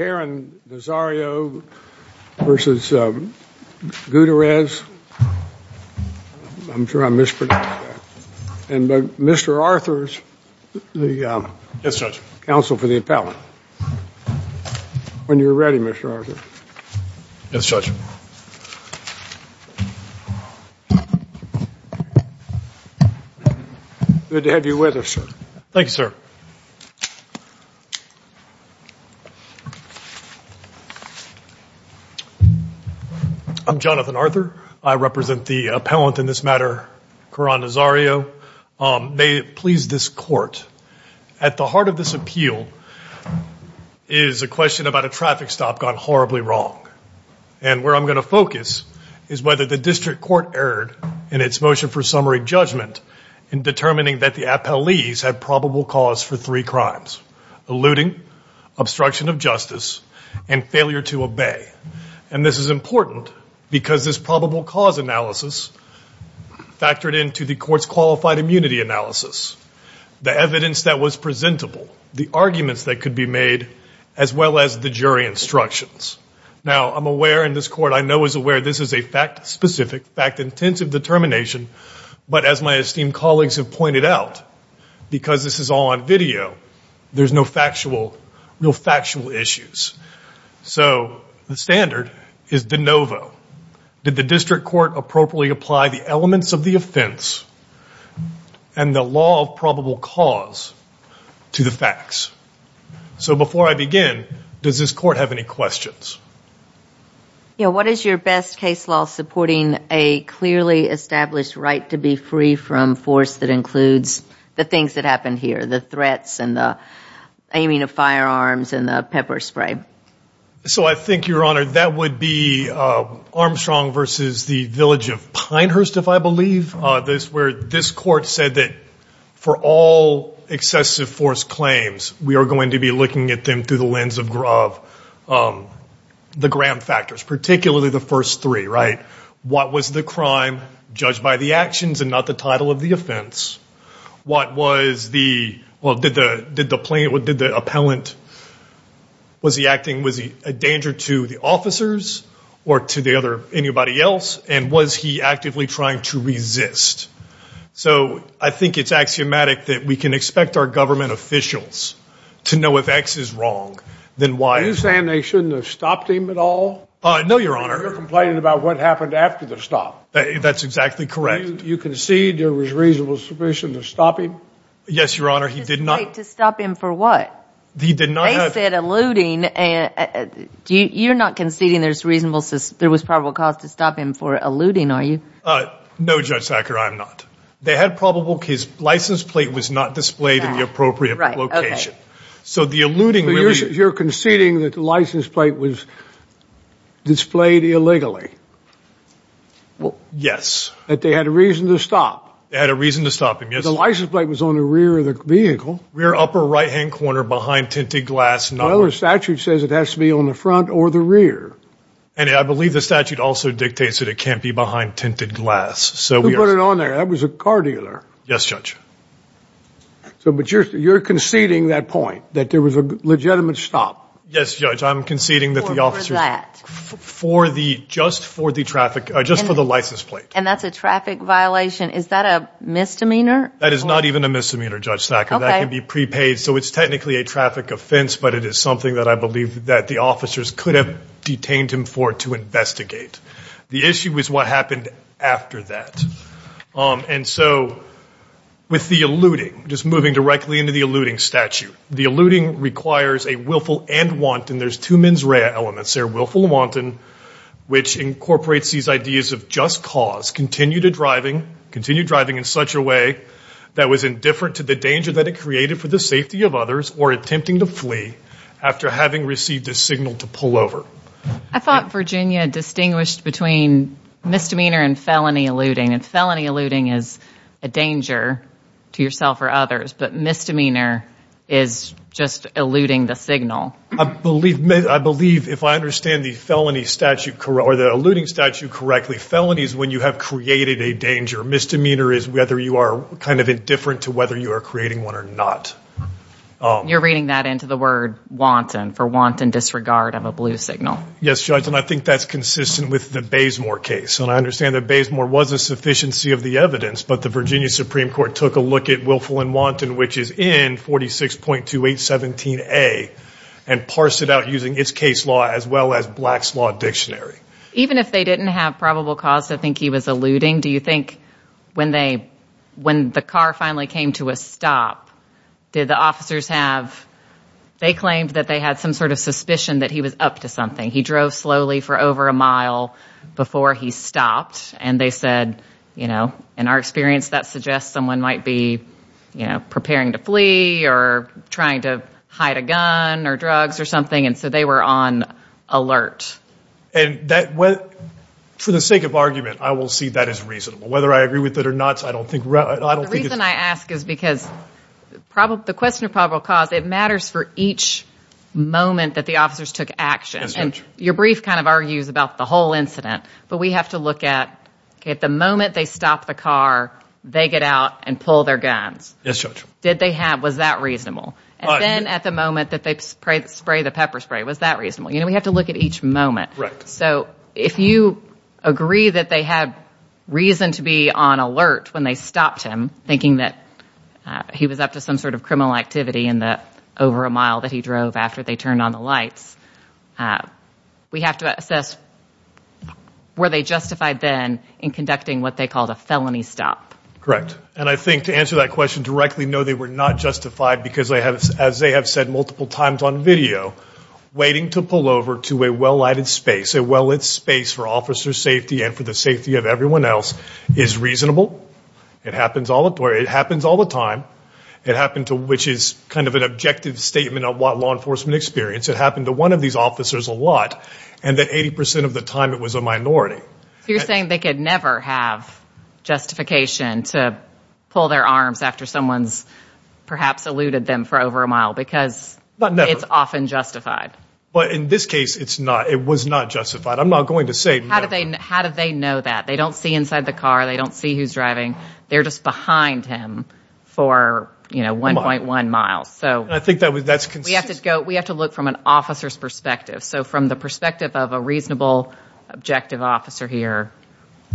I'm sure I mispronounced that. And Mr. Arthurs, the counsel for the appellant. When you're ready, Mr. Arthurs. Yes, Judge. Good to have you with us, sir. I'm Jonathan Arthur. I represent the appellant in this matter, Caron Nazario. May it please this court, at the heart of this appeal is a question about a traffic stop gone horribly wrong. And where I'm going to focus is whether the district court erred in its motion for summary judgment in determining that the appellees had probable cause for three crimes. Eluding, obstruction of justice, and failure to obey. And this is important because this probable cause analysis factored into the court's qualified immunity analysis. The evidence that was presentable, the arguments that could be made, as well as the jury instructions. Now, I'm aware in this court, I know is aware this is a fact specific, fact intensive determination. But as my esteemed colleagues have pointed out, because this is all on video, there's no factual, no factual issues. So the standard is de novo. Did the district court appropriately apply the elements of the offense and the law of probable cause to the facts? So before I begin, does this court have any questions? Yeah, what is your best case law supporting a clearly established right to be free from force that includes the things that happened here? The threats and the aiming of firearms and the pepper spray? So I think, Your Honor, that would be Armstrong versus the village of Pinehurst, if I believe. This court said that for all excessive force claims, we are going to be looking at them through the lens of the Graham factors, particularly the first three, right? What was the crime judged by the actions and not the title of the offense? What was the, well, did the plaintiff, did the appellant, was he acting, was he a danger to the officers or to the other, anybody else? And was he actively trying to resist? So I think it's axiomatic that we can expect our government officials to know if X is wrong than Y is. Are you saying they shouldn't have stopped him at all? No, Your Honor. You're complaining about what happened after the stop. That's exactly correct. You concede there was reasonable sufficient to stop him? Yes, Your Honor, he did not. To stop him for what? He did not have. They said eluding, you're not conceding there's reasonable, there was probable cause to stop him for eluding, are you? No, Judge Thacker, I'm not. They had probable, his license plate was not displayed in the appropriate location. Right, okay. So the eluding. So you're conceding that the license plate was displayed illegally? Yes. That they had a reason to stop? They had a reason to stop him, yes. The license plate was on the rear of the vehicle. Rear upper right-hand corner behind tinted glass. Well, the statute says it has to be on the front or the rear. And I believe the statute also dictates that it can't be behind tinted glass. Who put it on there? That was a car dealer. Yes, Judge. But you're conceding that point, that there was a legitimate stop? Yes, Judge, I'm conceding that the officers. For that? Just for the traffic, just for the license plate. And that's a traffic violation? Is that a misdemeanor? That is not even a misdemeanor, Judge Thacker. Okay. That can be prepaid, so it's technically a traffic offense, but it is something that I believe that the officers could have detained him for to investigate. The issue is what happened after that. And so with the eluding, just moving directly into the eluding statute, the eluding requires a willful and wanton. There's two mens rea elements there, willful and wanton, which incorporates these ideas of just cause, continue to driving, continue driving in such a way that was indifferent to the danger that it created for the safety of others or attempting to flee after having received a signal to pull over. I thought Virginia distinguished between misdemeanor and felony eluding, and felony eluding is a danger to yourself or others, but misdemeanor is just eluding the signal. I believe, if I understand the eluding statute correctly, felony is when you have created a danger. Misdemeanor is whether you are kind of indifferent to whether you are creating one or not. You're reading that into the word wanton, for wanton disregard of a blue signal. Yes, Judge, and I think that's consistent with the Bazemore case, and I understand that Bazemore was a sufficiency of the evidence, but the Virginia Supreme Court took a look at willful and wanton, which is in 46.2817A, and parsed it out using its case law as well as Black's Law Dictionary. Even if they didn't have probable cause to think he was eluding, do you think when the car finally came to a stop, did the officers have, they claimed that they had some sort of suspicion that he was up to something. He drove slowly for over a mile before he stopped, and they said, you know, in our experience that suggests someone might be preparing to flee or trying to hide a gun or drugs or something, and so they were on alert. And for the sake of argument, I will see that as reasonable. Whether I agree with it or not, I don't think it's – The reason I ask is because the question of probable cause, it matters for each moment that the officers took action. Yes, Judge. And your brief kind of argues about the whole incident, but we have to look at, okay, at the moment they stop the car, they get out and pull their guns. Yes, Judge. Did they have – was that reasonable? And then at the moment that they spray the pepper spray, was that reasonable? You know, we have to look at each moment. Correct. So if you agree that they had reason to be on alert when they stopped him, thinking that he was up to some sort of criminal activity in the over a mile that he drove after they turned on the lights, we have to assess were they justified then in conducting what they called a felony stop? Correct. And I think to answer that question directly, no, they were not justified because, as they have said multiple times on video, waiting to pull over to a well-lighted space, a well-lit space for officer safety and for the safety of everyone else is reasonable. It happens all the time. It happened to – which is kind of an objective statement of what law enforcement experience. It happened to one of these officers a lot, and that 80% of the time it was a minority. So you're saying they could never have justification to pull their arms after someone's perhaps eluded them for over a mile because it's often justified. But in this case, it was not justified. I'm not going to say never. How did they know that? They don't see inside the car. They don't see who's driving. They're just behind him for, you know, 1.1 miles. And I think that's consistent. We have to look from an officer's perspective. So from the perspective of a reasonable, objective officer here,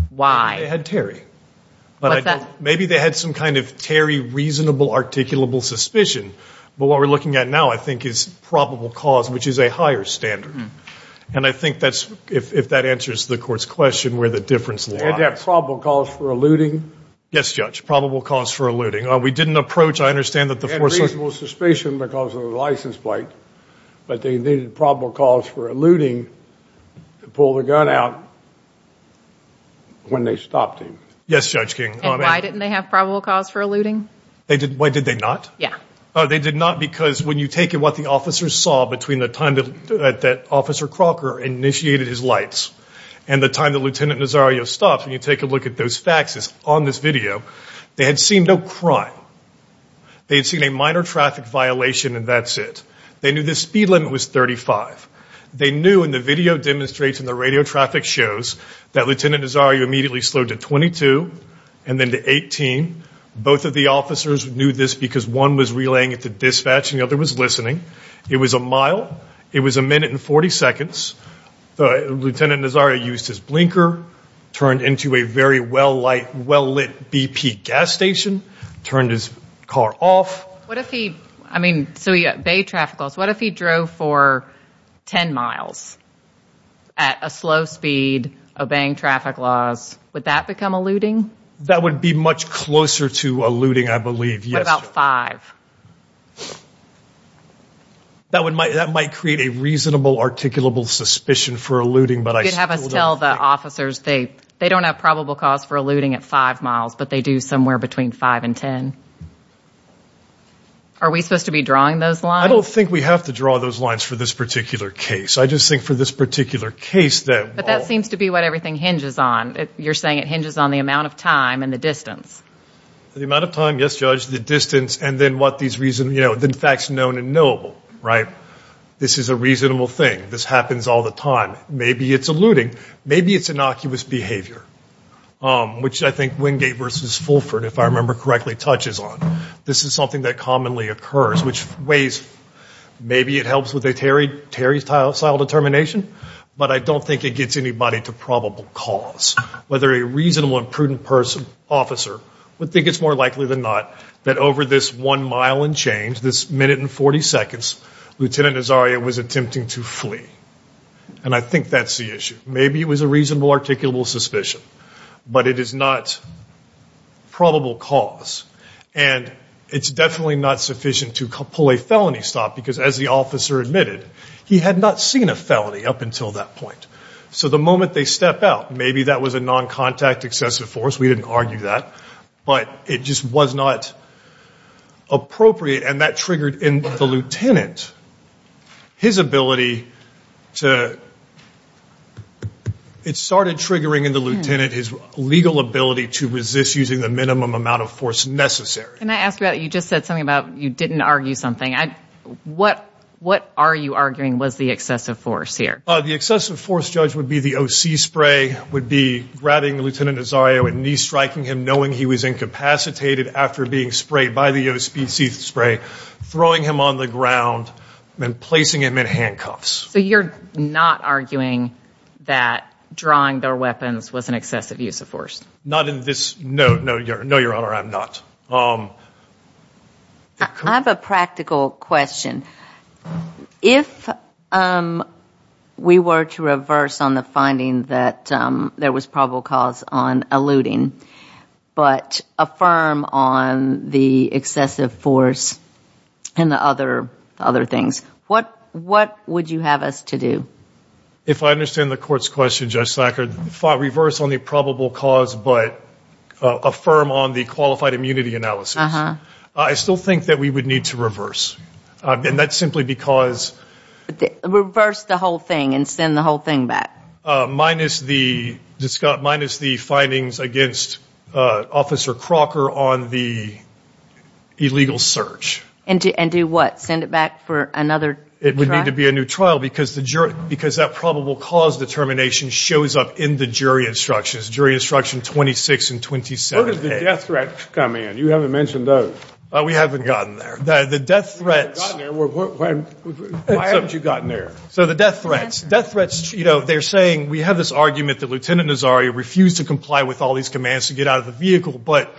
why? Maybe they had Terry. What's that? Maybe they had some kind of Terry reasonable, articulable suspicion. But what we're looking at now, I think, is probable cause, which is a higher standard. And I think that's – if that answers the court's question where the difference lies. They had probable cause for eluding? Yes, Judge, probable cause for eluding. We didn't approach – I understand that the force was – They had reasonable suspicion because of the license plate, but they needed probable cause for eluding to pull the gun out when they stopped him. Yes, Judge King. And why didn't they have probable cause for eluding? Why did they not? Yeah. They did not because when you take in what the officers saw between the time that Officer Crocker initiated his lights and the time that Lieutenant Nazario stopped, when you take a look at those facts on this video, they had seen no crime. They had seen a minor traffic violation and that's it. They knew the speed limit was 35. They knew in the video demonstration, the radio traffic shows, that Lieutenant Nazario immediately slowed to 22 and then to 18. Both of the officers knew this because one was relaying it to dispatch and the other was listening. It was a mile. It was a minute and 40 seconds. Lieutenant Nazario used his blinker, turned into a very well-lit BP gas station, turned his car off. So he obeyed traffic laws. What if he drove for 10 miles at a slow speed, obeying traffic laws? Would that become eluding? That would be much closer to eluding, I believe, yes. What about five? That might create a reasonable, articulable suspicion for eluding, but I still don't think. You could have us tell the officers they don't have probable cause for eluding at five miles, but they do somewhere between five and ten. Are we supposed to be drawing those lines? I don't think we have to draw those lines for this particular case. I just think for this particular case that. But that seems to be what everything hinges on. You're saying it hinges on the amount of time and the distance. The amount of time, yes, Judge. The distance and then what these facts known and knowable, right? This is a reasonable thing. This happens all the time. Maybe it's eluding. Maybe it's innocuous behavior, which I think Wingate versus Fulford, if I remember correctly, touches on. This is something that commonly occurs, which weighs. Maybe it helps with a Terry-style determination, but I don't think it gets anybody to probable cause. Whether a reasonable and prudent officer would think it's more likely than not that over this one mile and change, this minute and 40 seconds, Lieutenant Nazaria was attempting to flee. And I think that's the issue. Maybe it was a reasonable, articulable suspicion. But it is not probable cause. And it's definitely not sufficient to pull a felony stop because, as the officer admitted, he had not seen a felony up until that point. So the moment they step out, maybe that was a non-contact excessive force. We didn't argue that. But it just was not appropriate. And that triggered in the lieutenant his ability to – it started triggering in the lieutenant his legal ability to resist using the minimum amount of force necessary. Can I ask about – you just said something about you didn't argue something. What are you arguing was the excessive force here? The excessive force, Judge, would be the O.C. spray, would be grabbing Lieutenant Nazaria and knee-striking him, knowing he was incapacitated after being sprayed by the O.C. spray, throwing him on the ground and placing him in handcuffs. So you're not arguing that drawing their weapons was an excessive use of force? Not in this – no, Your Honor, I'm not. I have a practical question. If we were to reverse on the finding that there was probable cause on eluding but affirm on the excessive force and the other things, what would you have us to do? If I understand the Court's question, Judge Sackard, reverse on the probable cause but affirm on the qualified immunity analysis, I still think that we would need to reverse. And that's simply because – Reverse the whole thing and send the whole thing back. Minus the findings against Officer Crocker on the illegal search. And do what? Send it back for another trial? It would need to be a new trial because that probable cause determination shows up in the jury instructions, jury instruction 26 and 27A. Where does the death threat come in? You haven't mentioned those. We haven't gotten there. The death threats – You haven't gotten there? Why haven't you gotten there? So the death threats. Death threats, you know, they're saying – we have this argument that Lieutenant Nazari refused to comply with all these commands to get out of the vehicle, but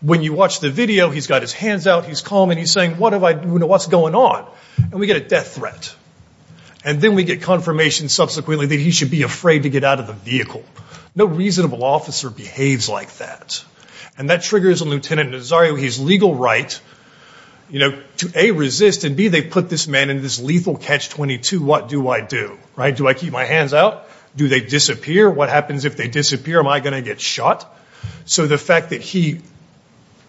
when you watch the video, he's got his hands out, he's calm, and he's saying, what's going on? And we get a death threat. And then we get confirmation subsequently that he should be afraid to get out of the vehicle. No reasonable officer behaves like that. And that triggers a Lieutenant Nazari with his legal right to, A, resist, and, B, they put this man in this lethal catch-22. What do I do? Do I keep my hands out? Do they disappear? What happens if they disappear? Am I going to get shot? So the fact that he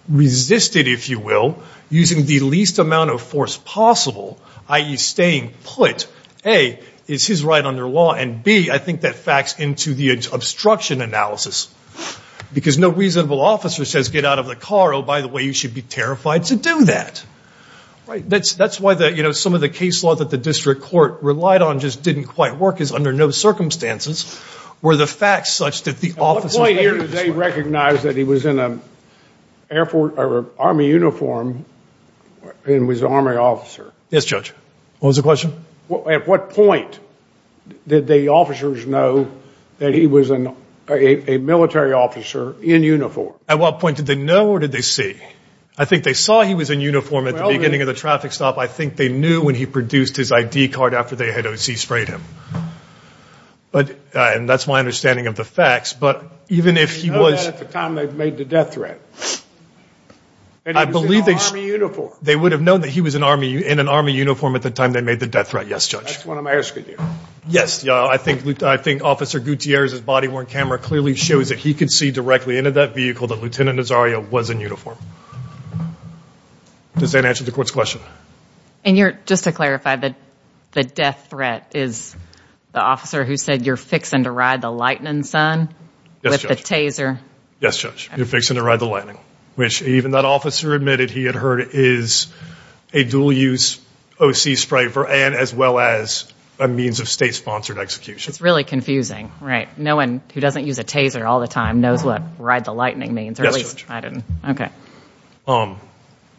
resisted, if you will, using the least amount of force possible, i.e. staying put, A, is his right under law, and, B, I think that facts into the obstruction analysis. Because no reasonable officer says, get out of the car, oh, by the way, you should be terrified to do that. That's why some of the case law that the district court relied on just didn't quite work, is under no circumstances were the facts such that the officer – At what point here did they recognize that he was in an Army uniform and was an Army officer? Yes, Judge. What was the question? At what point did the officers know that he was a military officer in uniform? At what point did they know or did they see? I think they saw he was in uniform at the beginning of the traffic stop. I think they knew when he produced his ID card after they had O.C. sprayed him. And that's my understanding of the facts, but even if he was – They know that at the time they made the death threat. And he was in an Army uniform. That's what I'm asking you. Yes. I think Officer Gutierrez's body-worn camera clearly shows that he could see directly into that vehicle that Lieutenant Nazario was in uniform. Does that answer the court's question? And just to clarify, the death threat is the officer who said, you're fixing to ride the lightning, son, with the taser? Yes, Judge. You're fixing to ride the lightning. Which even that officer admitted he had heard is a dual-use O.C. spray as well as a means of state-sponsored execution. It's really confusing, right? No one who doesn't use a taser all the time knows what ride the lightning means. Yes, Judge.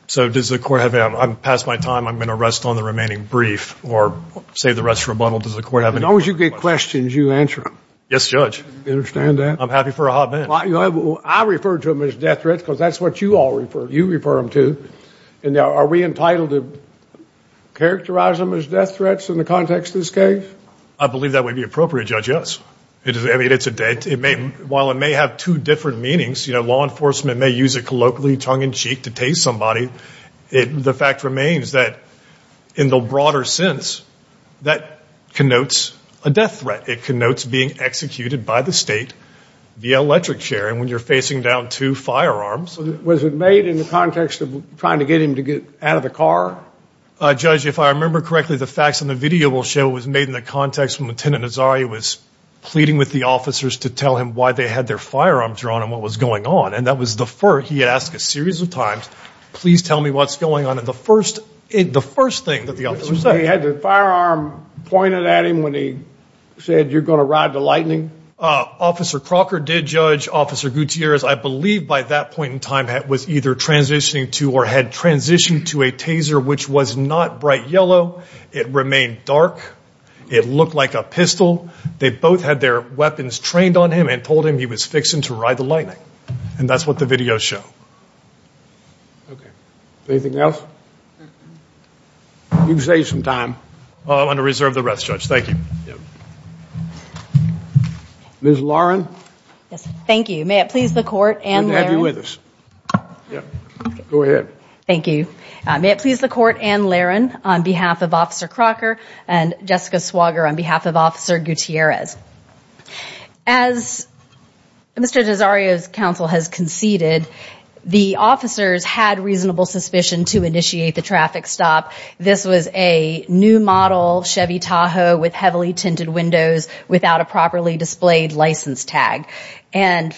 So does the court have – I'm past my time. I'm going to rest on the remaining brief or save the rest for rebuttal. As long as you get questions, you answer them. Yes, Judge. You understand that? I'm happy for a hot man. I refer to them as death threats because that's what you all refer – you refer them to. Are we entitled to characterize them as death threats in the context of this case? I believe that would be appropriate, Judge, yes. I mean, it's a – while it may have two different meanings, law enforcement may use it colloquially, tongue-in-cheek, to tase somebody, the fact remains that in the broader sense, that connotes a death threat. It connotes being executed by the state via electric chair. And when you're facing down two firearms – Was it made in the context of trying to get him to get out of the car? Judge, if I remember correctly, the facts on the video will show it was made in the context when Lieutenant Nazari was pleading with the officers to tell him why they had their firearms drawn and what was going on, and that was the first – he asked a series of times, please tell me what's going on. And the first thing that the officers said – He had the firearm pointed at him when he said, you're going to ride the lightning? Officer Crocker did, Judge. Officer Gutierrez, I believe by that point in time, was either transitioning to or had transitioned to a taser which was not bright yellow. It remained dark. It looked like a pistol. They both had their weapons trained on him and told him he was fixing to ride the lightning. And that's what the videos show. Okay. Anything else? You've saved some time. I'm going to reserve the rest, Judge. Thank you. Ms. Lauren? Thank you. May it please the Court and Larren. Good to have you with us. Go ahead. Thank you. May it please the Court and Larren, on behalf of Officer Crocker and Jessica Swager on behalf of Officer Gutierrez. As Mr. Nazario's counsel has conceded, the officers had reasonable suspicion to initiate the traffic stop. This was a new model Chevy Tahoe with heavily tinted windows without a properly displayed license tag. And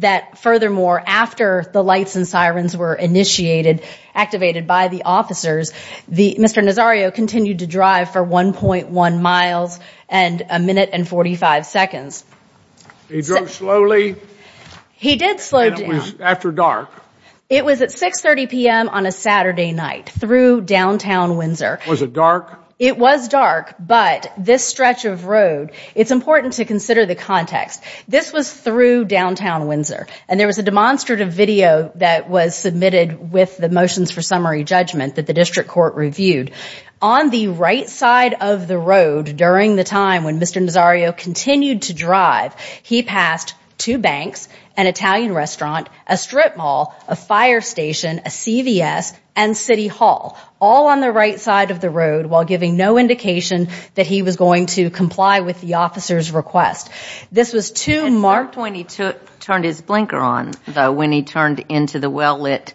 that furthermore, after the lights and sirens were initiated, activated by the officers, Mr. Nazario continued to drive for 1.1 miles and a minute and 45 seconds. He drove slowly. He did slow down. And it was after dark. It was at 6.30 p.m. on a Saturday night through downtown Windsor. Was it dark? It was dark, but this stretch of road, it's important to consider the context. This was through downtown Windsor. And there was a demonstrative video that was submitted with the motions for summary judgment that the District Court reviewed. On the right side of the road during the time when Mr. Nazario continued to drive, he passed two banks, an Italian restaurant, a strip mall, a fire station, a CVS, and City Hall, all on the right side of the road while giving no indication that he was going to comply with the officer's request. This was too marked. At some point he turned his blinker on, though, when he turned into the well-lit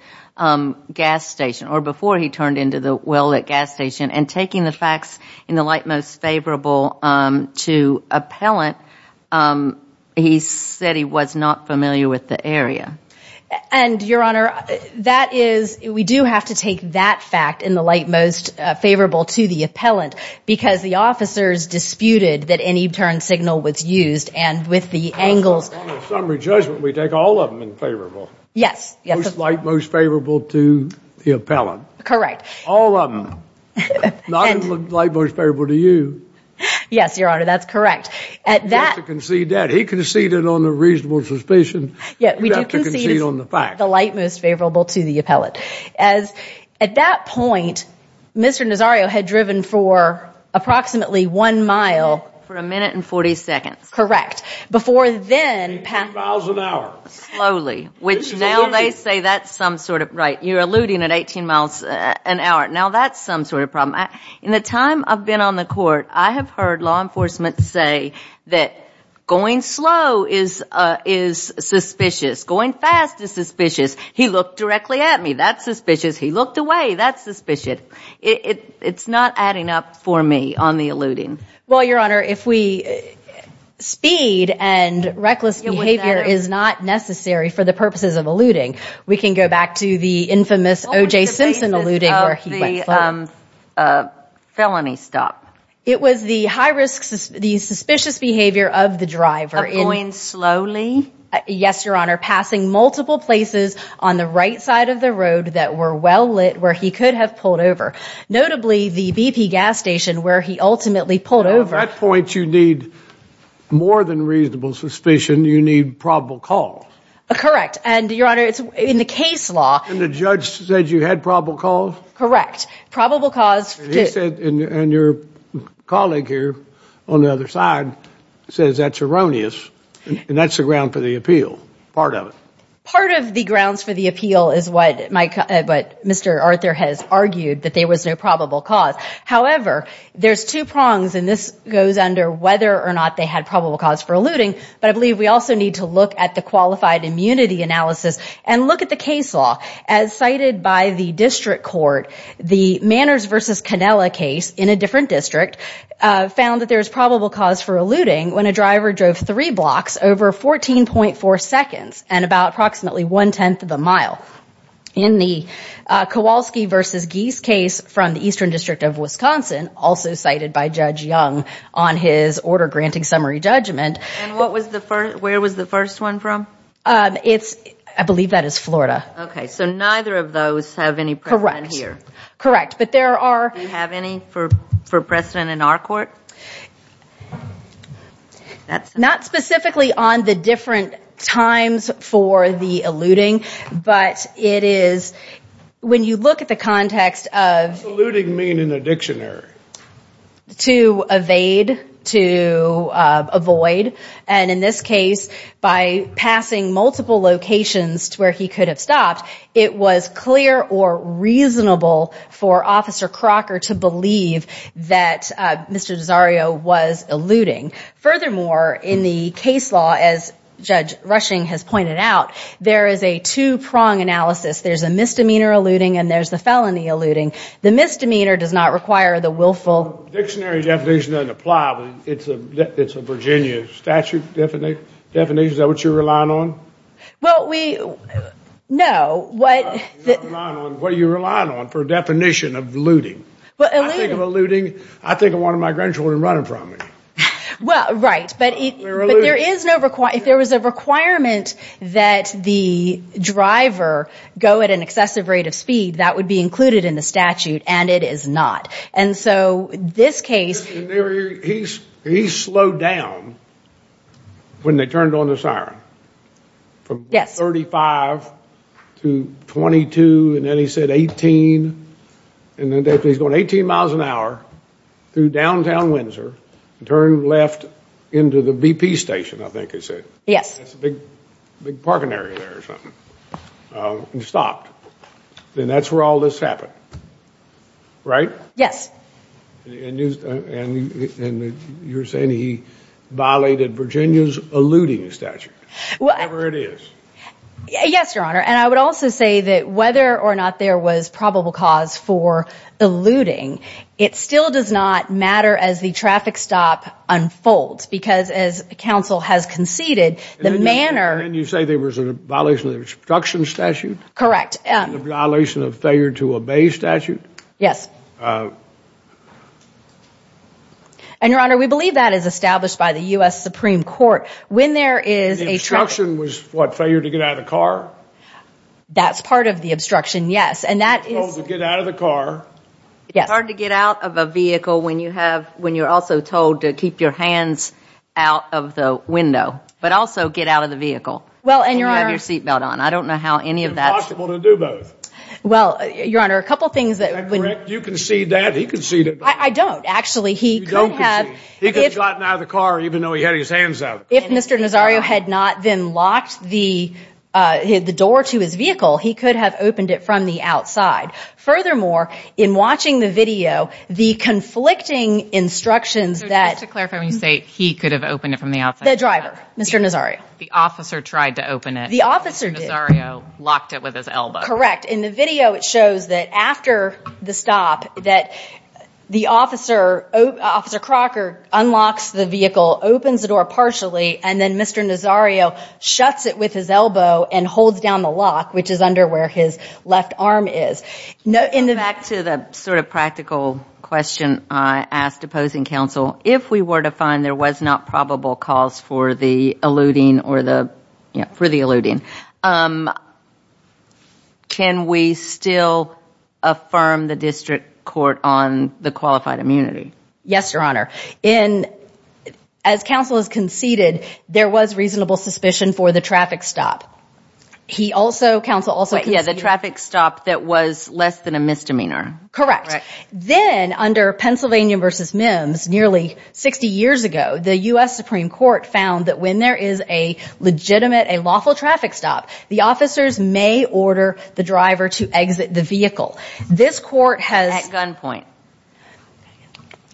gas station, or before he turned into the well-lit gas station, and taking the facts in the light most favorable to appellant, he said he was not familiar with the area. And, Your Honor, that is, we do have to take that fact in the light most favorable to the appellant because the officers disputed that any turn signal was used and with the angles. On the summary judgment, we take all of them in favorable. Yes. Most light, most favorable to the appellant. Correct. All of them. Not in the light most favorable to you. Yes, Your Honor, that's correct. You have to concede that. He conceded on the reasonable suspicion. You have to concede on the fact. The light most favorable to the appellant. At that point, Mr. Nazario had driven for approximately one mile. For a minute and 40 seconds. Correct. Before then, 18 miles an hour. Slowly. Which now they say that's some sort of, right, you're alluding at 18 miles an hour. Now that's some sort of problem. In the time I've been on the court, I have heard law enforcement say that going slow is suspicious. Going fast is suspicious. He looked directly at me. That's suspicious. He looked away. That's suspicious. It's not adding up for me on the alluding. Well, Your Honor, if we, speed and reckless behavior is not necessary for the purposes of alluding. We can go back to the infamous O.J. Simpson alluding where he went slow. What was the basis of the felony stop? It was the high risk, the suspicious behavior of the driver. Of going slowly? Yes, Your Honor. Passing multiple places on the right side of the road that were well lit where he could have pulled over. Notably, the BP gas station where he ultimately pulled over. At that point, you need more than reasonable suspicion. You need probable cause. Correct. And, Your Honor, in the case law. And the judge said you had probable cause? Correct. Probable cause. He said, and your colleague here on the other side says that's erroneous. And that's the ground for the appeal. Part of it. Part of the grounds for the appeal is what Mr. Arthur has argued, that there was no probable cause. However, there's two prongs, and this goes under whether or not they had probable cause for alluding. But I believe we also need to look at the qualified immunity analysis and look at the case law. As cited by the district court, the Manners v. Cannella case in a different district found that there was probable cause for alluding when a driver drove three blocks over 14.4 seconds and about approximately one-tenth of a mile. In the Kowalski v. Geese case from the Eastern District of Wisconsin, also cited by Judge Young on his order granting summary judgment. And where was the first one from? I believe that is Florida. Okay. So neither of those have any precedent here. Correct. Do you have any for precedent in our court? Not specifically on the different times for the alluding, but it is, when you look at the context of- What does alluding mean in a dictionary? To evade, to avoid, and in this case, by passing multiple locations to where he could have stopped, it was clear or reasonable for Officer Crocker to believe that Mr. Desario was alluding. Furthermore, in the case law, as Judge Rushing has pointed out, there is a two-prong analysis. There's a misdemeanor alluding and there's the felony alluding. The misdemeanor does not require the willful- Dictionary definition doesn't apply. It's a Virginia statute definition. Is that what you're relying on? Well, we- No. You're not relying on what you're relying on for a definition of alluding. Well, alluding- I think of one of my grandchildren running from me. Well, right. But there is no- Well, if there was a requirement that the driver go at an excessive rate of speed, that would be included in the statute, and it is not. And so, this case- He slowed down when they turned on the siren. Yes. From 35 to 22, and then he said 18, and then he's going 18 miles an hour through downtown Windsor, and turned left into the BP station, I think he said. Yes. That's a big parking area there or something. And he stopped. And that's where all this happened, right? Yes. And you're saying he violated Virginia's alluding statute, whatever it is. Yes, Your Honor. And I would also say that whether or not there was probable cause for alluding, it still does not matter as the traffic stop unfolds. Because as counsel has conceded, the manner- And you say there was a violation of the obstruction statute? Correct. A violation of failure to obey statute? Yes. And, Your Honor, we believe that is established by the U.S. Supreme Court. When there is a- The obstruction was, what, failure to get out of the car? That's part of the obstruction, yes. And that is- It's hard to get out of a vehicle when you're also told to keep your hands out of the window, but also get out of the vehicle when you have your seatbelt on. I don't know how any of that- It's impossible to do both. Well, Your Honor, a couple things that- Is that correct? You concede that, he conceded that. I don't. Actually, he could have- You don't concede. He could have gotten out of the car even though he had his hands out of the car. If Mr. Nazario had not then locked the door to his vehicle, he could have opened it from the outside. Furthermore, in watching the video, the conflicting instructions that- So just to clarify, when you say he could have opened it from the outside- The driver, Mr. Nazario. The officer tried to open it. The officer did. And Mr. Nazario locked it with his elbow. Correct. In the video, it shows that after the stop, that the officer, Officer Crocker unlocks the vehicle, opens the door partially, and then Mr. Nazario shuts it with his elbow and holds down the lock, which is under where his left arm is. Back to the sort of practical question I asked opposing counsel, if we were to find there was not probable cause for the eluding, can we still affirm the district court on the qualified immunity? Yes, Your Honor. As counsel has conceded, there was reasonable suspicion for the traffic stop. He also, counsel also conceded- Correct. Then, under Pennsylvania v. Mims, nearly 60 years ago, the U.S. Supreme Court found that when there is a legitimate, a lawful traffic stop, the officers may order the driver to exit the vehicle. This court has- At gunpoint.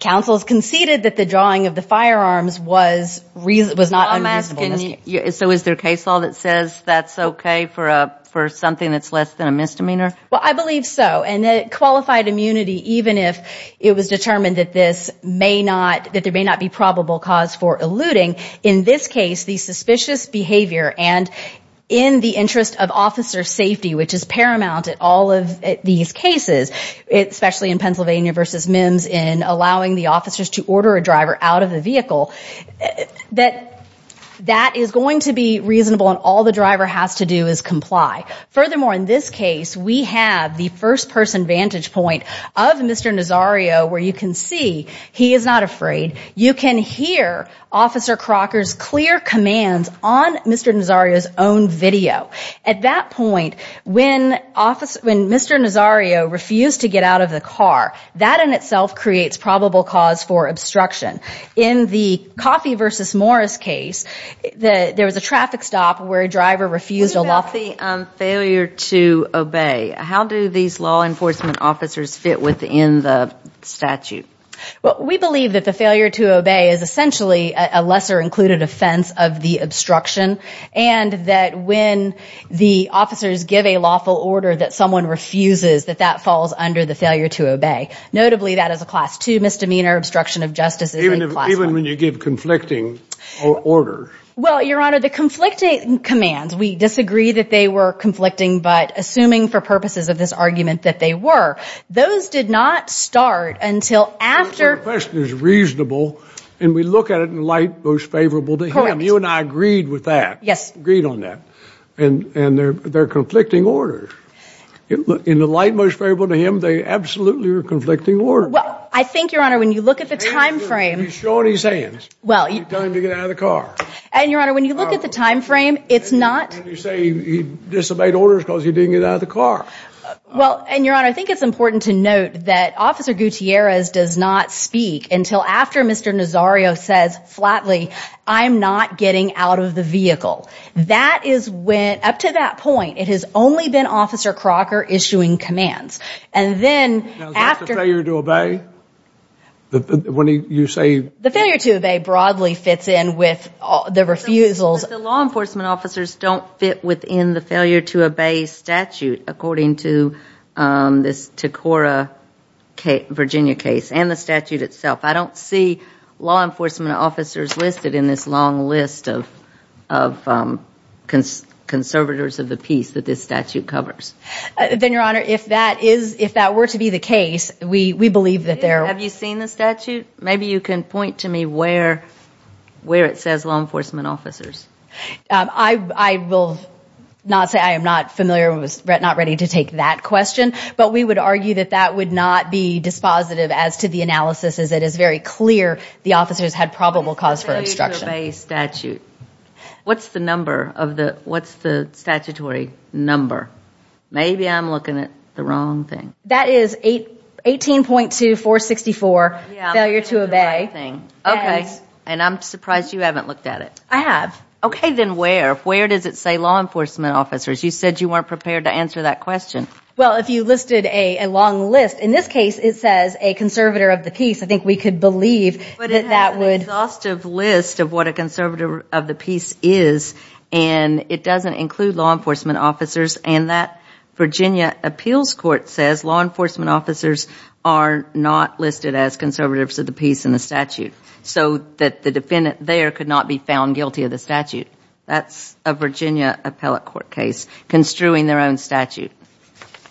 Counsel has conceded that the drawing of the firearms was not unreasonable. So is there case law that says that's okay for something that's less than a misdemeanor? Well, I believe so. And that qualified immunity, even if it was determined that this may not, that there may not be probable cause for eluding, in this case, the suspicious behavior and in the interest of officer safety, which is paramount at all of these cases, especially in Pennsylvania v. Mims, in allowing the officers to order a driver out of the vehicle, that that is going to be reasonable and all the driver has to do is comply. Furthermore, in this case, we have the first-person vantage point of Mr. Nazario, where you can see he is not afraid. You can hear Officer Crocker's clear commands on Mr. Nazario's own video. At that point, when Mr. Nazario refused to get out of the car, that in itself creates probable cause for obstruction. In the Coffey v. Morris case, there was a traffic stop where a driver refused- In the failure to obey, how do these law enforcement officers fit within the statute? Well, we believe that the failure to obey is essentially a lesser included offense of the obstruction and that when the officers give a lawful order that someone refuses, that that falls under the failure to obey. Notably, that is a Class II misdemeanor, obstruction of justice is a Class I. Even when you give conflicting orders? Well, Your Honor, the conflicting commands, we disagree that they were conflicting, but assuming for purposes of this argument that they were, those did not start until after- So the question is reasonable, and we look at it in the light most favorable to him. Correct. You and I agreed with that. Yes. Agreed on that. And they're conflicting orders. In the light most favorable to him, they absolutely are conflicting orders. Well, I think, Your Honor, when you look at the time frame- He's showing his hands. You tell him to get out of the car. And, Your Honor, when you look at the time frame, it's not- And you say he disobeyed orders because he didn't get out of the car. Well, and, Your Honor, I think it's important to note that Officer Gutierrez does not speak until after Mr. Nazario says flatly, I'm not getting out of the vehicle. That is when, up to that point, it has only been Officer Crocker issuing commands. And then after- Now, is that the failure to obey? When you say- The failure to obey broadly fits in with the refusals- But the law enforcement officers don't fit within the failure to obey statute, according to this Tacora, Virginia case and the statute itself. I don't see law enforcement officers listed in this long list of conservators of the peace that this statute covers. Then, Your Honor, if that were to be the case, we believe that there- Have you seen the statute? Maybe you can point to me where it says law enforcement officers. I will not say I am not familiar or not ready to take that question, but we would argue that that would not be dispositive as to the analysis, as it is very clear the officers had probable cause for obstruction. What's the number of the statutory number? Maybe I'm looking at the wrong thing. That is 18.2464, failure to obey. Okay. And I'm surprised you haven't looked at it. I have. Okay, then where? Where does it say law enforcement officers? You said you weren't prepared to answer that question. Well, if you listed a long list, in this case it says a conservator of the peace. I think we could believe that that would- But it has an exhaustive list of what a conservator of the peace is, and it doesn't include law enforcement officers. And that Virginia appeals court says law enforcement officers are not listed as conservators of the peace in the statute, so that the defendant there could not be found guilty of the statute. That's a Virginia appellate court case construing their own statute.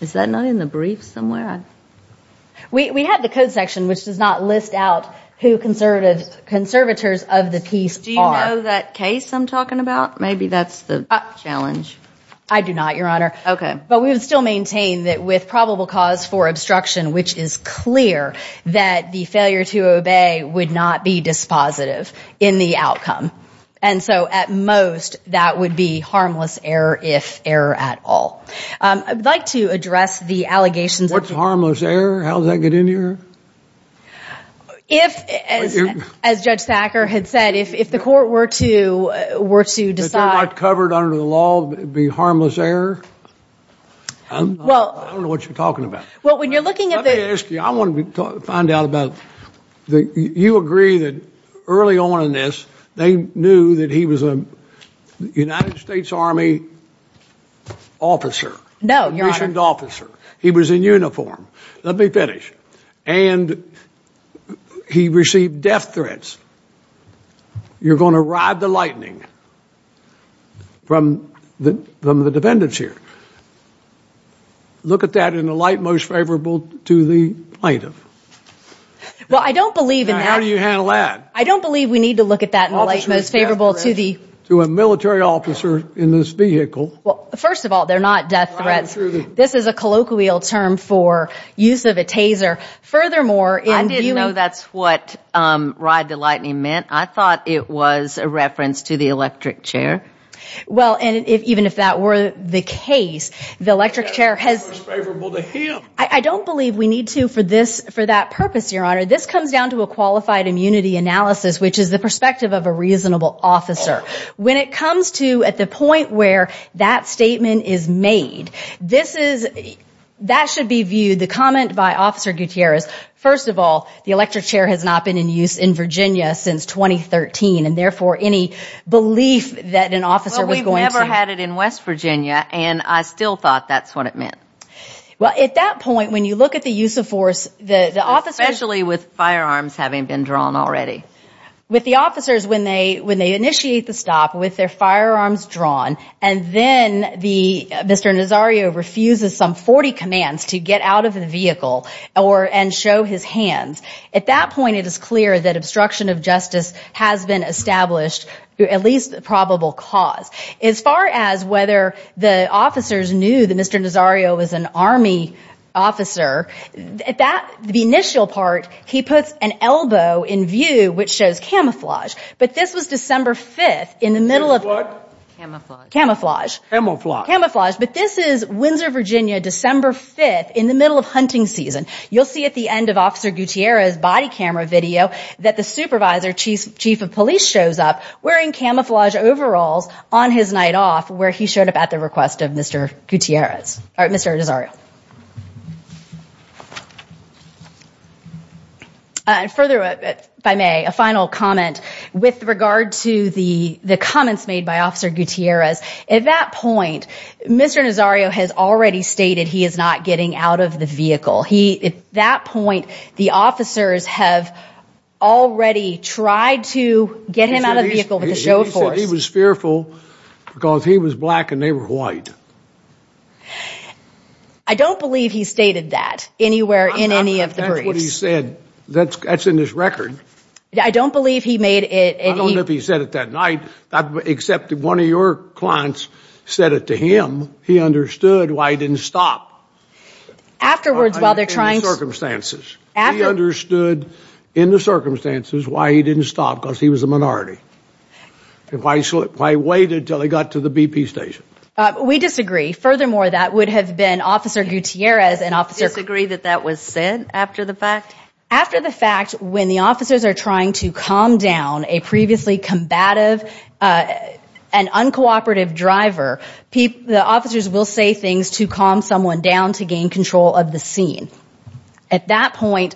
Is that not in the brief somewhere? We have the code section, which does not list out who conservators of the peace are. Do you know that case I'm talking about? Maybe that's the challenge. I do not, Your Honor. Okay. But we would still maintain that with probable cause for obstruction, which is clear, that the failure to obey would not be dispositive in the outcome. And so at most, that would be harmless error if error at all. I'd like to address the allegations- What's harmless error? How does that get into your- If, as Judge Thacker had said, if the court were to decide- Well- I don't know what you're talking about. Well, when you're looking at the- Let me ask you. I want to find out about- You agree that early on in this, they knew that he was a United States Army officer. No, Your Honor. A missioned officer. He was in uniform. Let me finish. And he received death threats. You're going to ride the lightning from the defendants here. Look at that in the light most favorable to the plaintiff. Well, I don't believe- Now, how do you handle that? I don't believe we need to look at that in the light most favorable to the- To a military officer in this vehicle. Well, first of all, they're not death threats. This is a colloquial term for use of a taser. I didn't know that's what ride the lightning meant. I thought it was a reference to the electric chair. Well, and even if that were the case, the electric chair has- Most favorable to him. I don't believe we need to for that purpose, Your Honor. This comes down to a qualified immunity analysis, which is the perspective of a reasonable officer. When it comes to at the point where that statement is made, that should be viewed, the comment by Officer Gutierrez, first of all, the electric chair has not been in use in Virginia since 2013, and therefore any belief that an officer was going to- Well, we've never had it in West Virginia, and I still thought that's what it meant. Well, at that point, when you look at the use of force, the officers- Especially with firearms having been drawn already. With the officers, when they initiate the stop, with their firearms drawn, and then Mr. Nazario refuses some 40 commands to get out of the vehicle and show his hands, at that point it is clear that obstruction of justice has been established, at least a probable cause. As far as whether the officers knew that Mr. Nazario was an Army officer, the initial part, he puts an elbow in view, which shows camouflage. But this was December 5th, in the middle of- What? Camouflage. Camouflage. Camouflage. But this is Windsor, Virginia, December 5th, in the middle of hunting season. You'll see at the end of Officer Gutierrez's body camera video that the supervisor chief of police shows up wearing camouflage overalls on his night off, where he showed up at the request of Mr. Nazario. Further, if I may, a final comment with regard to the comments made by Officer Gutierrez. At that point, Mr. Nazario has already stated he is not getting out of the vehicle. At that point, the officers have already tried to get him out of the vehicle with the show of force. He said he was fearful because he was black and they were white. I don't believe he stated that anywhere in any of the briefs. That's what he said. That's in his record. I don't believe he made it- I don't know if he said it that night, except one of your clients said it to him. He understood why he didn't stop. Afterwards, while they're trying to- In the circumstances. He understood, in the circumstances, why he didn't stop, because he was a minority. Why he waited until they got to the BP station. We disagree. Furthermore, that would have been Officer Gutierrez and Officer- You disagree that that was said after the fact? After the fact, when the officers are trying to calm down a previously combative and uncooperative driver, the officers will say things to calm someone down to gain control of the scene. At that point,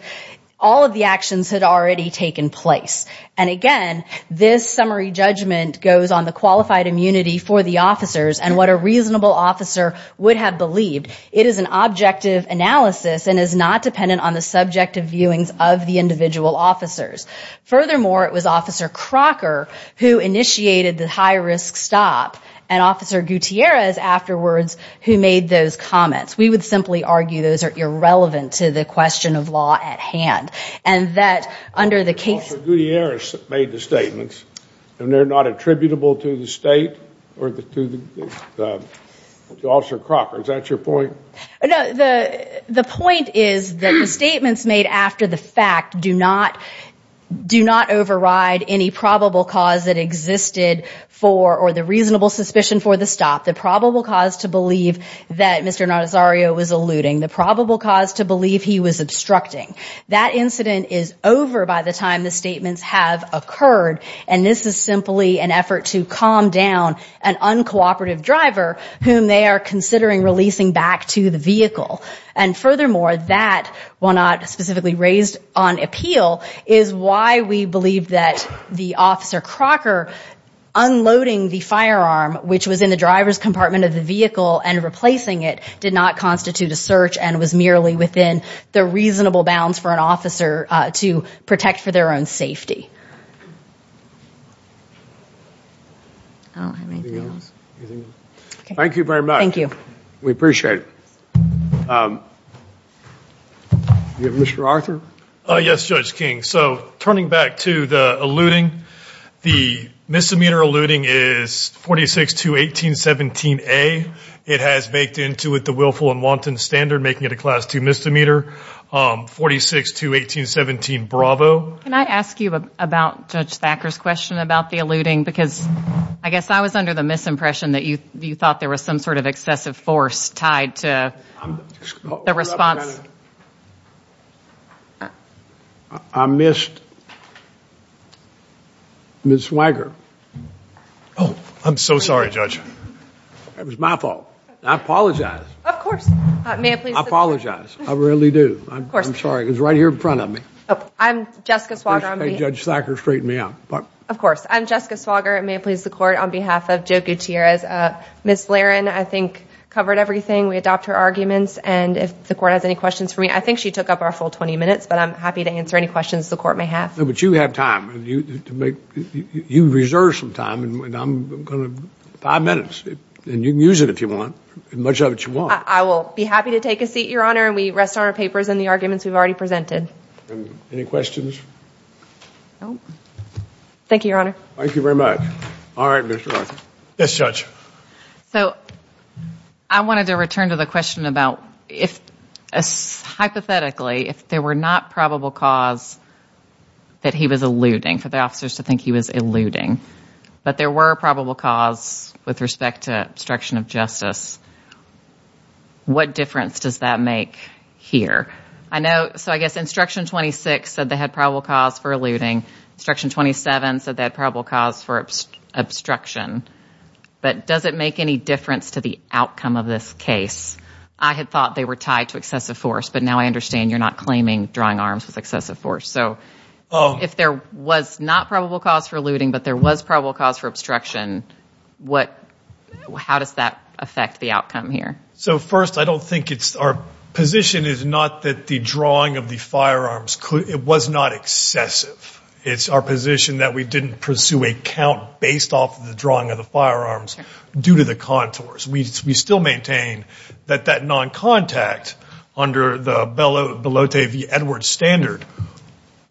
all of the actions had already taken place. And again, this summary judgment goes on the qualified immunity for the officers and what a reasonable officer would have believed. It is an objective analysis and is not dependent on the subjective viewings of the individual officers. Furthermore, it was Officer Crocker who initiated the high-risk stop and Officer Gutierrez afterwards who made those comments. We would simply argue those are irrelevant to the question of law at hand. Officer Gutierrez made the statements and they're not attributable to the state or to Officer Crocker. Is that your point? No, the point is that the statements made after the fact do not override any probable cause that existed for or the reasonable suspicion for the stop. The probable cause to believe that Mr. Nazario was eluding. The probable cause to believe he was obstructing. That incident is over by the time the statements have occurred. And this is simply an effort to calm down an uncooperative driver whom they are considering releasing back to the vehicle. And furthermore, that, while not specifically raised on appeal, is why we believe that the Officer Crocker unloading the firearm, which was in the driver's compartment of the vehicle and replacing it, did not constitute a search and was merely within the reasonable bounds for an officer to protect for their own safety. Thank you very much. Thank you. We appreciate it. Mr. Arthur? Yes, Judge King. So turning back to the eluding, the misdemeanor eluding is 46-1817A. It has baked into it the willful and wanton standard, making it a Class II misdemeanor. 46-1817B. Can I ask you about Judge Thacker's question about the eluding? Because I guess I was under the misimpression that you thought there was some sort of excessive force tied to the response. I missed Ms. Weiger. Oh, I'm so sorry, Judge. It was my fault. I apologize. Of course. I apologize. I really do. Of course. I'm sorry. It was right here in front of me. I'm Jessica Swager. Judge Thacker, straighten me out. Of course. I'm Jessica Swager. It may please the Court. On behalf of Joe Gutierrez, Ms. Lahren, I think, covered everything. We adopt her arguments. And if the Court has any questions for me, I think she took up our full 20 minutes, but I'm happy to answer any questions the Court may have. No, but you have time. You reserve some time. Five minutes. And you can use it if you want, as much of it as you want. I will be happy to take a seat, Your Honor, and we rest on our papers in the arguments we've already presented. Any questions? No. Thank you, Your Honor. Thank you very much. All right, Ms. Lahren. Yes, Judge. So, I wanted to return to the question about if, hypothetically, if there were not probable cause that he was eluding, for the officers to think he was eluding, but there were probable cause with respect to obstruction of justice, what difference does that make here? So, I guess Instruction 26 said they had probable cause for eluding. Instruction 27 said they had probable cause for obstruction. But does it make any difference to the outcome of this case? I had thought they were tied to excessive force, but now I understand you're not claiming drawing arms with excessive force. So, if there was not probable cause for eluding, but there was probable cause for obstruction, how does that affect the outcome here? So, first, I don't think it's our position is not that the drawing of the firearms, it was not excessive. It's our position that we didn't pursue a count based off the drawing of the firearms due to the contours. We still maintain that that non-contact under the Belote v. Edwards standard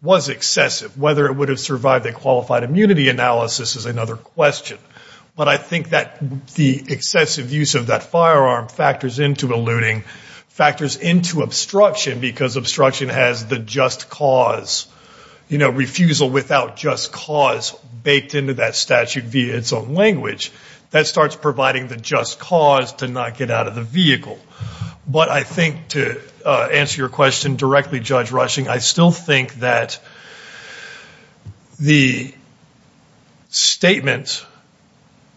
was excessive. Whether it would have survived a qualified immunity analysis is another question. But I think that the excessive use of that firearm factors into eluding, factors into obstruction, because obstruction has the just cause, refusal without just cause baked into that statute via its own language. That starts providing the just cause to not get out of the vehicle. But I think to answer your question directly, Judge Rushing, I still think that the statement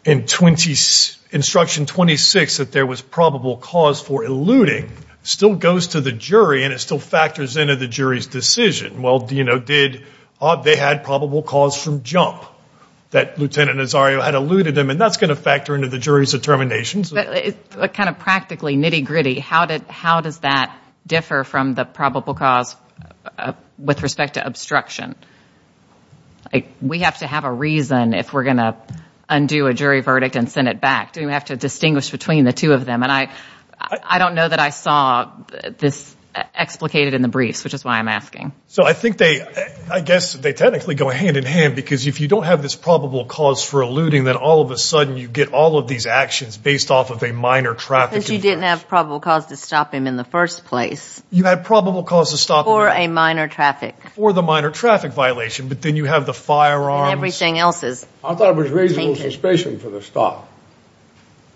in Instruction 26 that there was probable cause for eluding still goes to the jury and it still factors into the jury's decision. Well, they had probable cause from jump that Lieutenant Nazario had eluded them, and that's going to factor into the jury's determinations. But kind of practically nitty-gritty, how does that differ from the probable cause with respect to obstruction? We have to have a reason if we're going to undo a jury verdict and send it back. We have to distinguish between the two of them. And I don't know that I saw this explicated in the briefs, which is why I'm asking. So I think they, I guess they technically go hand in hand, because if you don't have this probable cause for eluding, then all of a sudden you get all of these actions based off of a minor traffic. But you didn't have probable cause to stop him in the first place. You had probable cause to stop him. For a minor traffic. For the minor traffic violation, but then you have the firearms. And everything else is. I thought it was reasonable suspicion for the stop.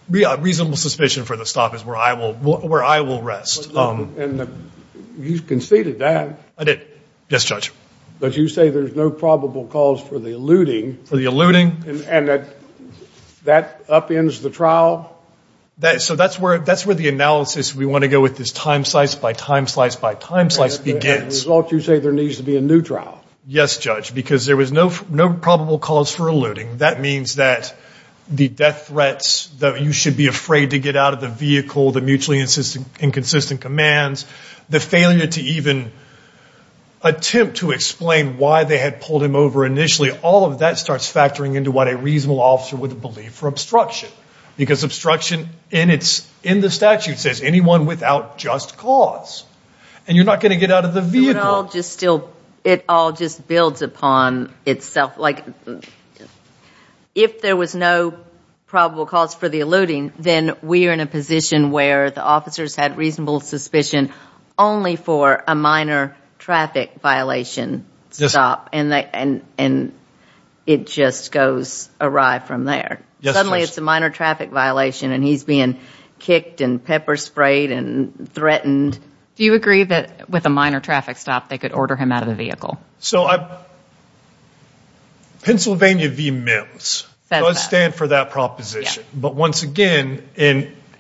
Reasonable suspicion for the stop is where I will rest. And you conceded that. I did. Yes, Judge. But you say there's no probable cause for the eluding. For the eluding. And that upends the trial. So that's where the analysis we want to go with this time slice by time slice by time slice begins. As a result, you say there needs to be a new trial. Yes, Judge, because there was no probable cause for eluding. That means that the death threats, that you should be afraid to get out of the vehicle, the mutually inconsistent commands, the failure to even attempt to explain why they had pulled him over initially, all of that starts factoring into what a reasonable officer would believe for obstruction. Because obstruction in the statute says anyone without just cause. And you're not going to get out of the vehicle. It all just builds upon itself. If there was no probable cause for the eluding, then we are in a position where the officers had reasonable suspicion only for a minor traffic violation stop. And it just goes awry from there. Suddenly it's a minor traffic violation and he's being kicked and pepper sprayed and threatened. Do you agree that with a minor traffic stop they could order him out of the vehicle? So Pennsylvania v. MIMS does stand for that proposition. But once again...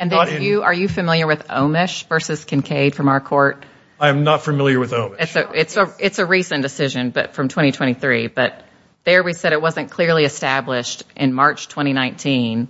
Are you familiar with Omish v. Kincaid from our court? I am not familiar with Omish. It's a recent decision from 2023. But there we said it wasn't clearly established in March 2019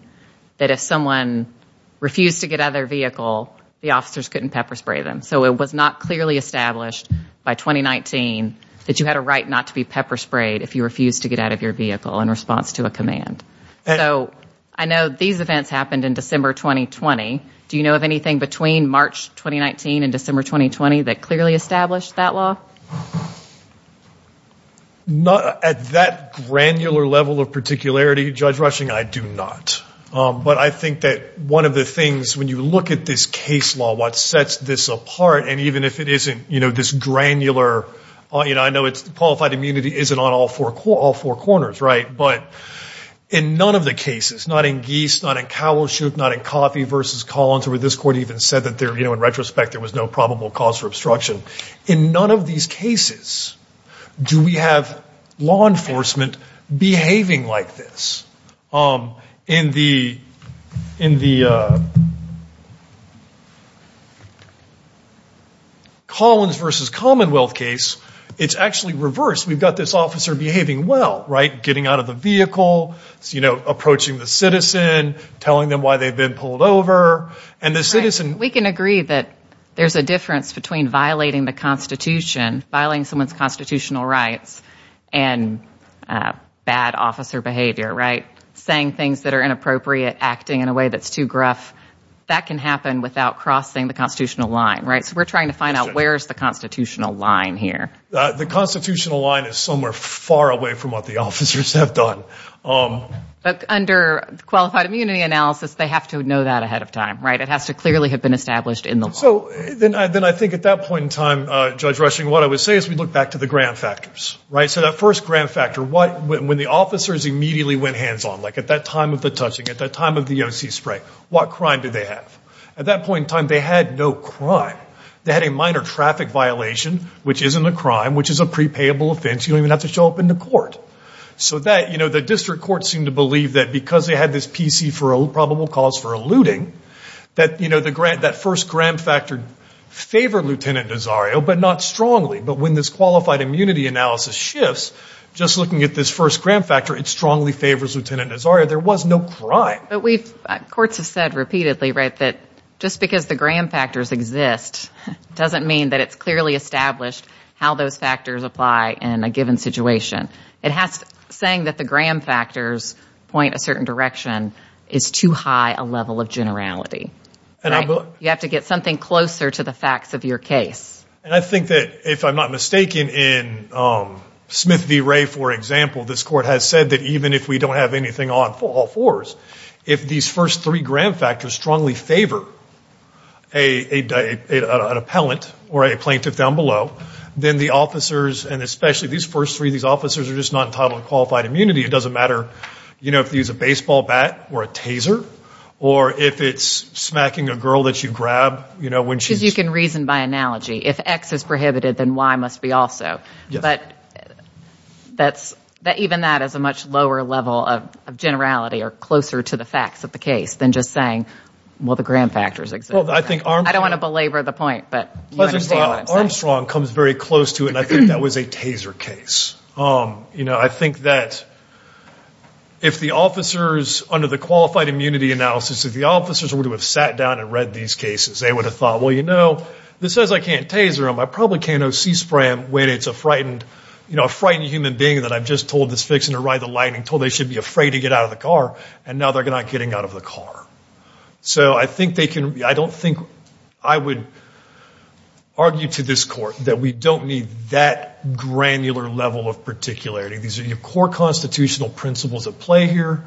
that if someone refused to get out of their vehicle, the officers couldn't pepper spray them. So it was not clearly established by 2019 that you had a right not to be pepper sprayed if you refused to get out of your vehicle in response to a command. So I know these events happened in December 2020. Do you know of anything between March 2019 and December 2020 that clearly established that law? At that granular level of particularity, Judge Rushing, I do not. But I think that one of the things when you look at this case law, what sets this apart, and even if it isn't this granular... I know qualified immunity isn't on all four corners, right? But in none of the cases, not in Geese, not in Cowleshoot, not in Coffey v. Collins, where this court even said that in retrospect there was no probable cause for obstruction, in none of these cases do we have law enforcement behaving like this. In the Collins v. Commonwealth case, it's actually reversed. We've got this officer behaving well, right? Getting out of the vehicle, approaching the citizen, telling them why they've been pulled over. We can agree that there's a difference between violating the Constitution, violating someone's constitutional rights, and bad officer behavior, right? Saying things that are inappropriate, acting in a way that's too gruff. That can happen without crossing the constitutional line, right? So we're trying to find out where is the constitutional line here. The constitutional line is somewhere far away from what the officers have done. But under qualified immunity analysis, they have to know that ahead of time, right? It has to clearly have been established in the law. So then I think at that point in time, Judge Rushing, what I would say is we look back to the grand factors, right? So that first grand factor, when the officers immediately went hands-on, like at that time of the touching, at that time of the EOC spray, what crime did they have? At that point in time, they had no crime. They had a minor traffic violation, which isn't a crime, which is a prepayable offense. You don't even have to show up in the court. So the district courts seem to believe that because they had this PC for probable cause for eluding, that first grand factor favored Lieutenant Nazario, but not strongly. But when this qualified immunity analysis shifts, just looking at this first grand factor, it strongly favors Lieutenant Nazario. There was no crime. But courts have said repeatedly, right, that just because the grand factors exist doesn't mean that it's clearly established how those factors apply in a given situation. It has to be saying that the grand factors point a certain direction is too high a level of generality. You have to get something closer to the facts of your case. And I think that if I'm not mistaken, in Smith v. Ray, for example, this court has said that even if we don't have anything on all fours, if these first three grand factors strongly favor an appellant or a plaintiff down below, then the officers, and especially these first three, these officers are just not entitled to qualified immunity. It doesn't matter if they use a baseball bat or a taser or if it's smacking a girl that you grab. Because you can reason by analogy. If X is prohibited, then Y must be also. But even that is a much lower level of generality or closer to the facts of the case than just saying, well, the grand factors exist. I don't want to belabor the point, but you understand what I'm saying. Armstrong comes very close to it, and I think that was a taser case. You know, I think that if the officers, under the qualified immunity analysis, if the officers would have sat down and read these cases, they would have thought, well, you know, this says I can't taser them. I probably can't O.C. spray them when it's a frightened human being that I've just told is fixing to ride the lightning, told they should be afraid to get out of the car, and now they're not getting out of the car. So I don't think I would argue to this court that we don't need that granular level of particularity. These are your core constitutional principles at play here.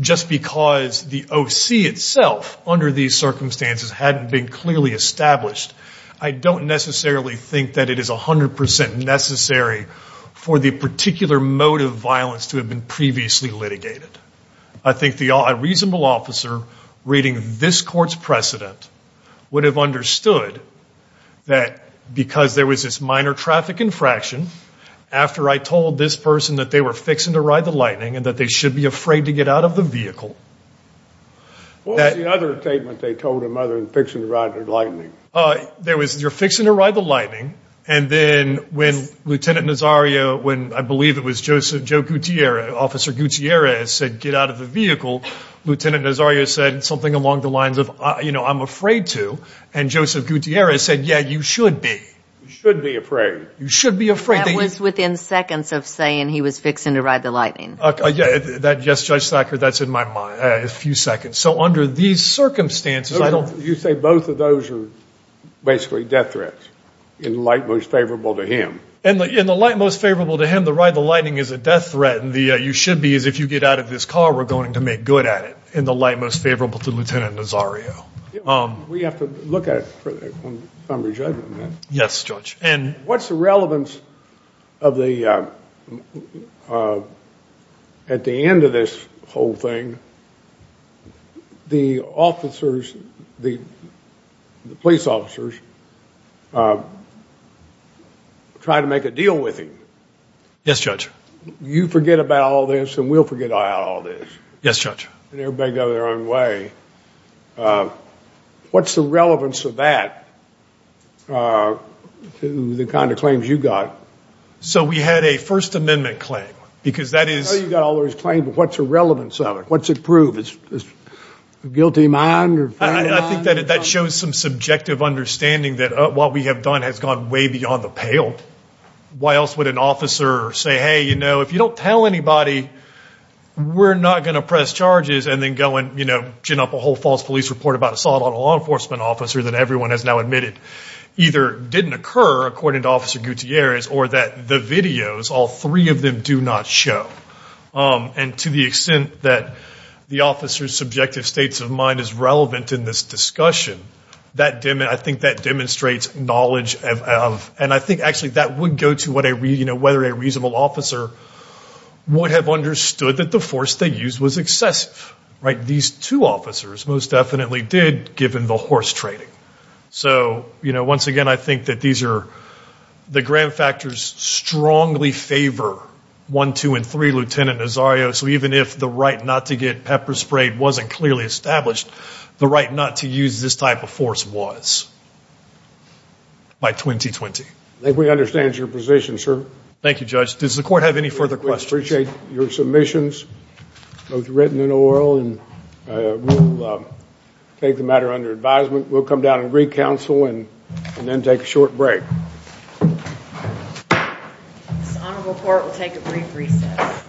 Just because the O.C. itself under these circumstances hadn't been clearly established, I don't necessarily think that it is 100% necessary for the particular mode of violence to have been previously litigated. I think a reasonable officer reading this court's precedent would have understood that because there was this minor traffic infraction, after I told this person that they were fixing to ride the lightning and that they should be afraid to get out of the vehicle. What was the other statement they told him other than fixing to ride the lightning? There was you're fixing to ride the lightning, and then when Lieutenant Nazario, when I believe it was Joe Gutierrez, Officer Gutierrez said get out of the vehicle, Lieutenant Nazario said something along the lines of, you know, I'm afraid to, and Joseph Gutierrez said, yeah, you should be. You should be afraid. You should be afraid. That was within seconds of saying he was fixing to ride the lightning. Yes, Judge Thacker, that's in my mind, a few seconds. So under these circumstances, I don't. You say both of those are basically death threats in the light most favorable to him. In the light most favorable to him, to ride the lightning is a death threat, and the you should be is if you get out of this car, we're going to make good at it. In the light most favorable to Lieutenant Nazario. We have to look at it for some re-judgment. Yes, Judge. And what's the relevance of the, at the end of this whole thing, the officers, the police officers, try to make a deal with him. Yes, Judge. You forget about all this, and we'll forget about all this. Yes, Judge. And everybody got their own way. What's the relevance of that to the kind of claims you got? So we had a First Amendment claim, because that is. I know you got all those claims, but what's the relevance of it? What's it prove? Is it a guilty mind? I think that shows some subjective understanding that what we have done has gone way beyond the pale. Why else would an officer say, hey, you know, if you don't tell anybody, we're not going to press charges, and then go and gin up a whole false police report about assault on a law enforcement officer that everyone has now admitted either didn't occur, according to Officer Gutierrez, or that the videos, all three of them, do not show. And to the extent that the officer's subjective states of mind is relevant in this discussion, I think that demonstrates knowledge of. And I think, actually, that would go to whether a reasonable officer would have understood that the force they used was excessive. These two officers most definitely did, given the horse trading. So, you know, once again, I think that these are the grand factors strongly favor 1, 2, and 3, Lieutenant Nazario. So even if the right not to get pepper sprayed wasn't clearly established, the right not to use this type of force was by 2020. I think we understand your position, sir. Thank you, Judge. Does the Court have any further questions? We appreciate your submissions, both written and oral, and we'll take the matter under advisement. We'll come down and re-counsel and then take a short break. This honorable Court will take a brief recess.